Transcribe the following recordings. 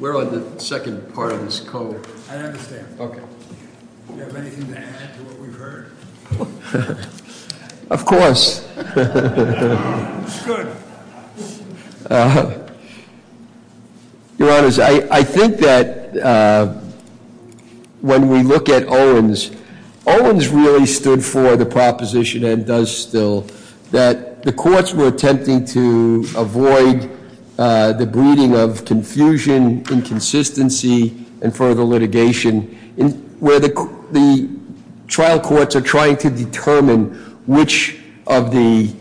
We're on the second part of this code. I understand. Okay. Do you have anything to add to what we've heard? Of course. Good. Owens really stood for the proposition, and does still, that the courts were attempting to avoid the breeding of confusion, inconsistency, and further litigation, where the trial courts are trying to determine which of the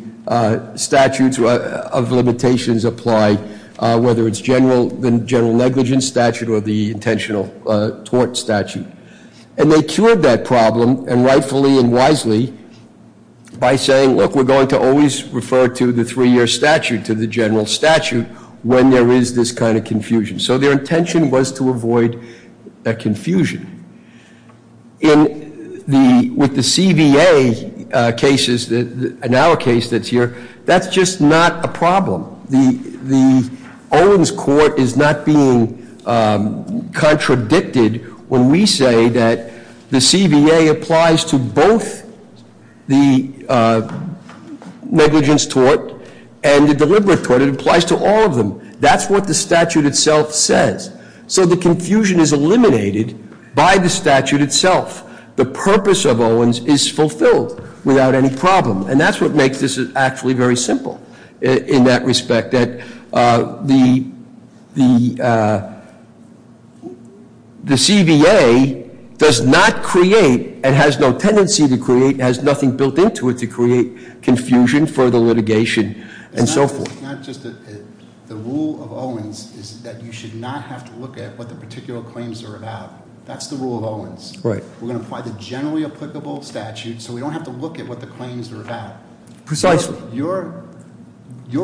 statutes of limitations apply, whether it's the general negligence statute or the intentional tort statute. And they cured that problem, and rightfully and wisely, by saying, look, we're going to always refer to the three year statute, to the general statute, when there is this kind of confusion. So their intention was to avoid that confusion. In the, with the CVA cases, in our case that's here, that's just not a problem. The Owens court is not being contradicted when we say that the CVA applies to both the negligence tort and the deliberate tort. It applies to all of them. That's what the statute itself says. So the confusion is eliminated by the statute itself. The purpose of Owens is fulfilled without any problem. And that's what makes this actually very simple, in that respect, that the CVA does not create, and has no tendency to create, has nothing built into it to create confusion, further litigation, and so forth. Not just the rule of Owens is that you should not have to look at what the particular claims are about. That's the rule of Owens. We're going to apply the generally applicable statute, so we don't have to look at what the claims are about. Precisely. Your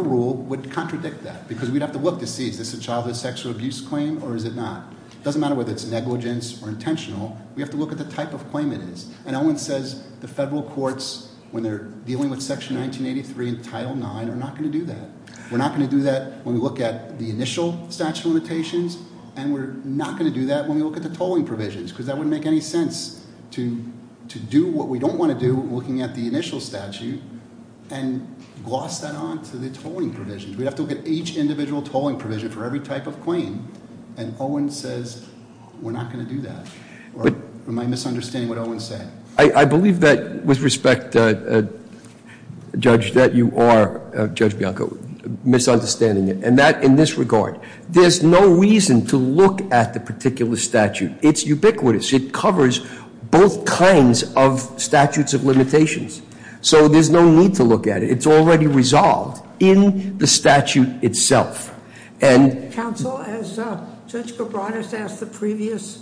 rule would contradict that, because we'd have to look to see, is this a childhood sexual abuse claim, or is it not? Doesn't matter whether it's negligence or intentional, we have to look at the type of claim it is. And Owens says the federal courts, when they're dealing with section 1983 and title 9, are not going to do that. We're not going to do that when we look at the initial statute limitations, and we're not going to do that when we look at the tolling provisions, because that wouldn't make any sense to do what we don't want to do, looking at the initial statute, and gloss that on to the tolling provisions. We'd have to look at each individual tolling provision for every type of claim. And Owens says, we're not going to do that, or am I misunderstanding what Owens said? I believe that, with respect, Judge, that you are, Judge Bianco, misunderstanding it, and that in this regard. There's no reason to look at the particular statute. It's ubiquitous. It covers both kinds of statutes of limitations. So there's no need to look at it. It's already resolved in the statute itself. And- Council, as Judge Cabranes asked the previous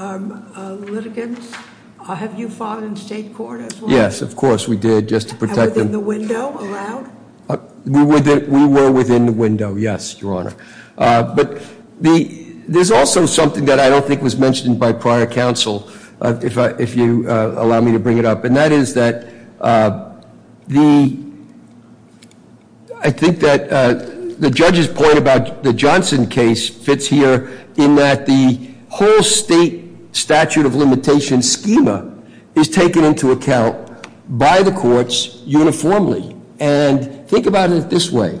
litigants, have you fought in state court as well? Yes, of course we did, just to protect them. And within the window, allowed? We were within the window, yes, your honor. But there's also something that I don't think was mentioned by prior counsel, if you allow me to bring it up. And that is that I think that the judge's point about the Johnson case fits here in that the whole state statute of limitations schema is taken into account by the courts uniformly. And think about it this way.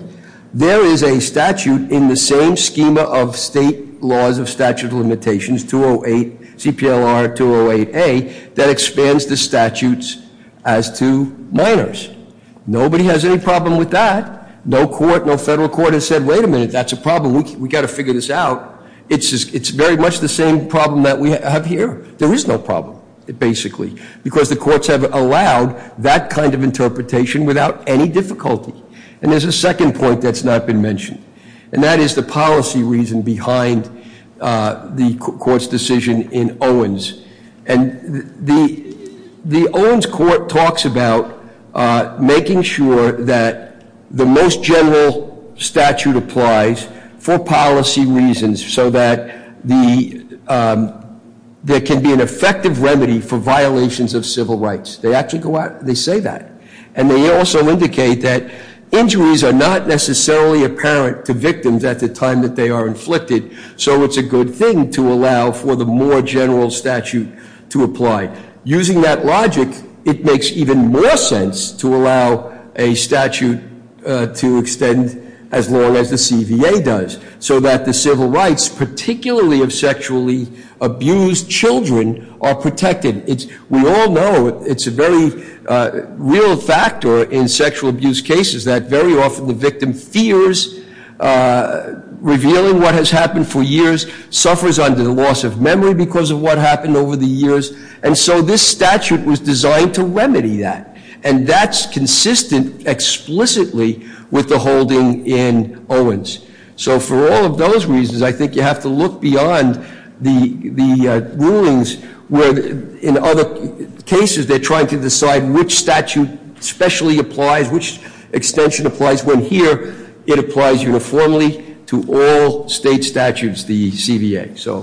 There is a statute in the same schema of state laws of statute of limitations, 208, CPLR 208A, that expands the statutes as to minors. Nobody has any problem with that. No court, no federal court has said, wait a minute, that's a problem, we gotta figure this out. It's very much the same problem that we have here. There is no problem, basically. Because the courts have allowed that kind of interpretation without any difficulty. And there's a second point that's not been mentioned. And that is the policy reason behind the court's decision in Owens. And the Owens court talks about making sure that the most general statute applies for policy reasons so that there can be an effective remedy for violations of civil rights. They actually go out and they say that. And they also indicate that injuries are not necessarily apparent to victims at the time that they are inflicted. So it's a good thing to allow for the more general statute to apply. Using that logic, it makes even more sense to allow a statute to extend as long as the CVA does, so that the civil rights, particularly of sexually abused children, are protected. We all know it's a very real factor in sexual abuse cases that very often the victim fears revealing what has happened for years, suffers under the loss of memory because of what happened over the years. And so this statute was designed to remedy that. And that's consistent explicitly with the holding in Owens. So for all of those reasons, I think you have to look beyond the rulings where in other cases they're trying to decide which statute specially applies, which extension applies. When here, it applies uniformly to all state statutes, the CVA, so.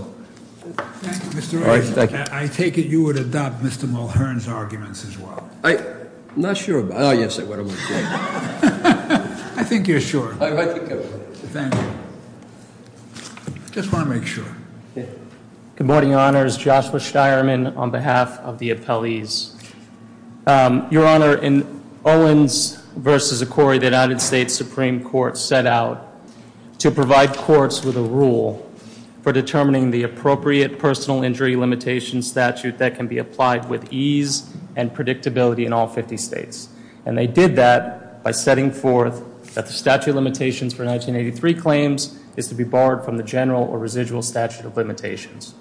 Thank you, Mr. Owens. I take it you would adopt Mr. Mulhern's arguments as well. Not sure about, yes I would. I think you're sure. I think I would. Thank you. Just want to make sure. Good morning, your honors. Joshua Steierman on behalf of the appellees. Your honor, in Owens versus Ikori, the United States Supreme Court set out to provide courts with a rule for determining the appropriate personal injury limitation statute that can be applied with ease and predictability in all 50 states. And they did that by setting forth that the statute of limitations for 1983 claims is to be barred from the general or residual statute of limitations.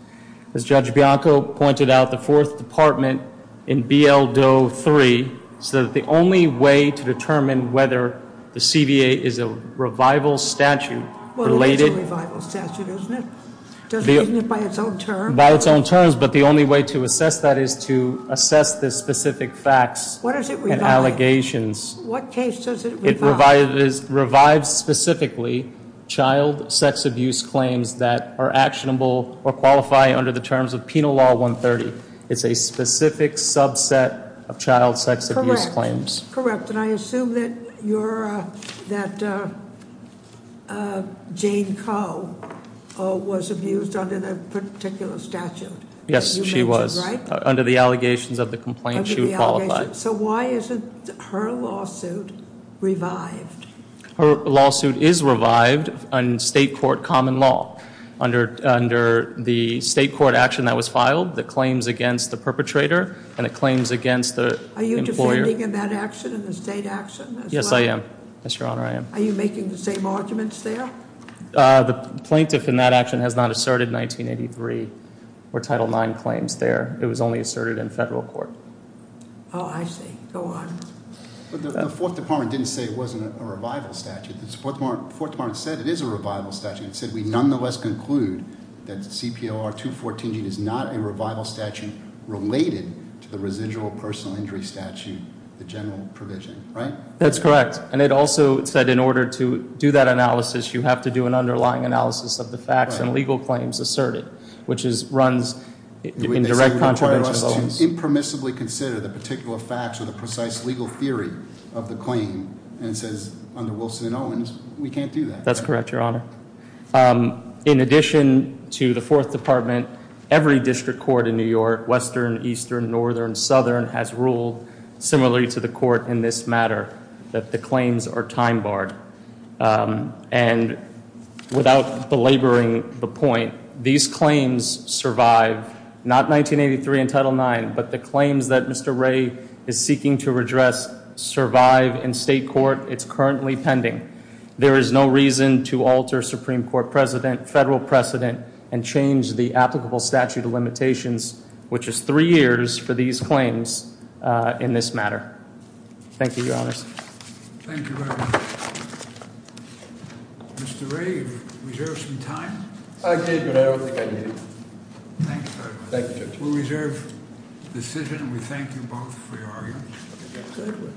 As Judge Bianco pointed out, the fourth department in BL Doe 3, so that the only way to determine whether the CVA is a revival statute related- Well, it is a revival statute, isn't it? Doesn't it, isn't it by its own terms? By its own terms, but the only way to assess that is to assess the specific facts and allegations. What does it revive? What case does it revive? It revives specifically child sex abuse claims that are actionable or qualify under the terms of Penal Law 130. It's a specific subset of child sex abuse claims. Correct, and I assume that you're, that Jane Coe was abused under that particular statute. Yes, she was. Under the allegations of the complaint, she would qualify. So why isn't her lawsuit revived? Her lawsuit is revived on state court common law. Under the state court action that was filed, the claims against the perpetrator and the claims against the employer. Are you defending in that action, in the state action? Yes, I am. Yes, your honor, I am. Are you making the same arguments there? The plaintiff in that action has not asserted 1983 or Title IX claims there. It was only asserted in federal court. I see, go on. But the fourth department didn't say it wasn't a revival statute. The fourth department said it is a revival statute. It said we nonetheless conclude that CPLR 214 is not a revival statute related to the residual personal injury statute, the general provision, right? That's correct. And it also said in order to do that analysis, you have to do an underlying analysis of the facts and legal claims asserted. Which runs in direct contravention of Owens. They say we require us to impermissibly consider the particular facts or the precise legal theory of the claim. And it says under Wilson and Owens, we can't do that. That's correct, your honor. In addition to the fourth department, every district court in New York, Western, Eastern, Northern, Southern has ruled, similarly to the court in this matter, that the claims are time barred. And without belaboring the point, these claims survive, not 1983 and Title IX, but the claims that Mr. Ray is seeking to redress survive in state court. It's currently pending. There is no reason to alter Supreme Court precedent, federal precedent, and change the applicable statute of limitations, which is three years for these claims in this matter. Thank you, your honors. Thank you very much. Mr. Ray, you reserve some time? I did, but I don't think I need it. Thanks very much. Thank you, Judge. We reserve decision and we thank you both for your argument.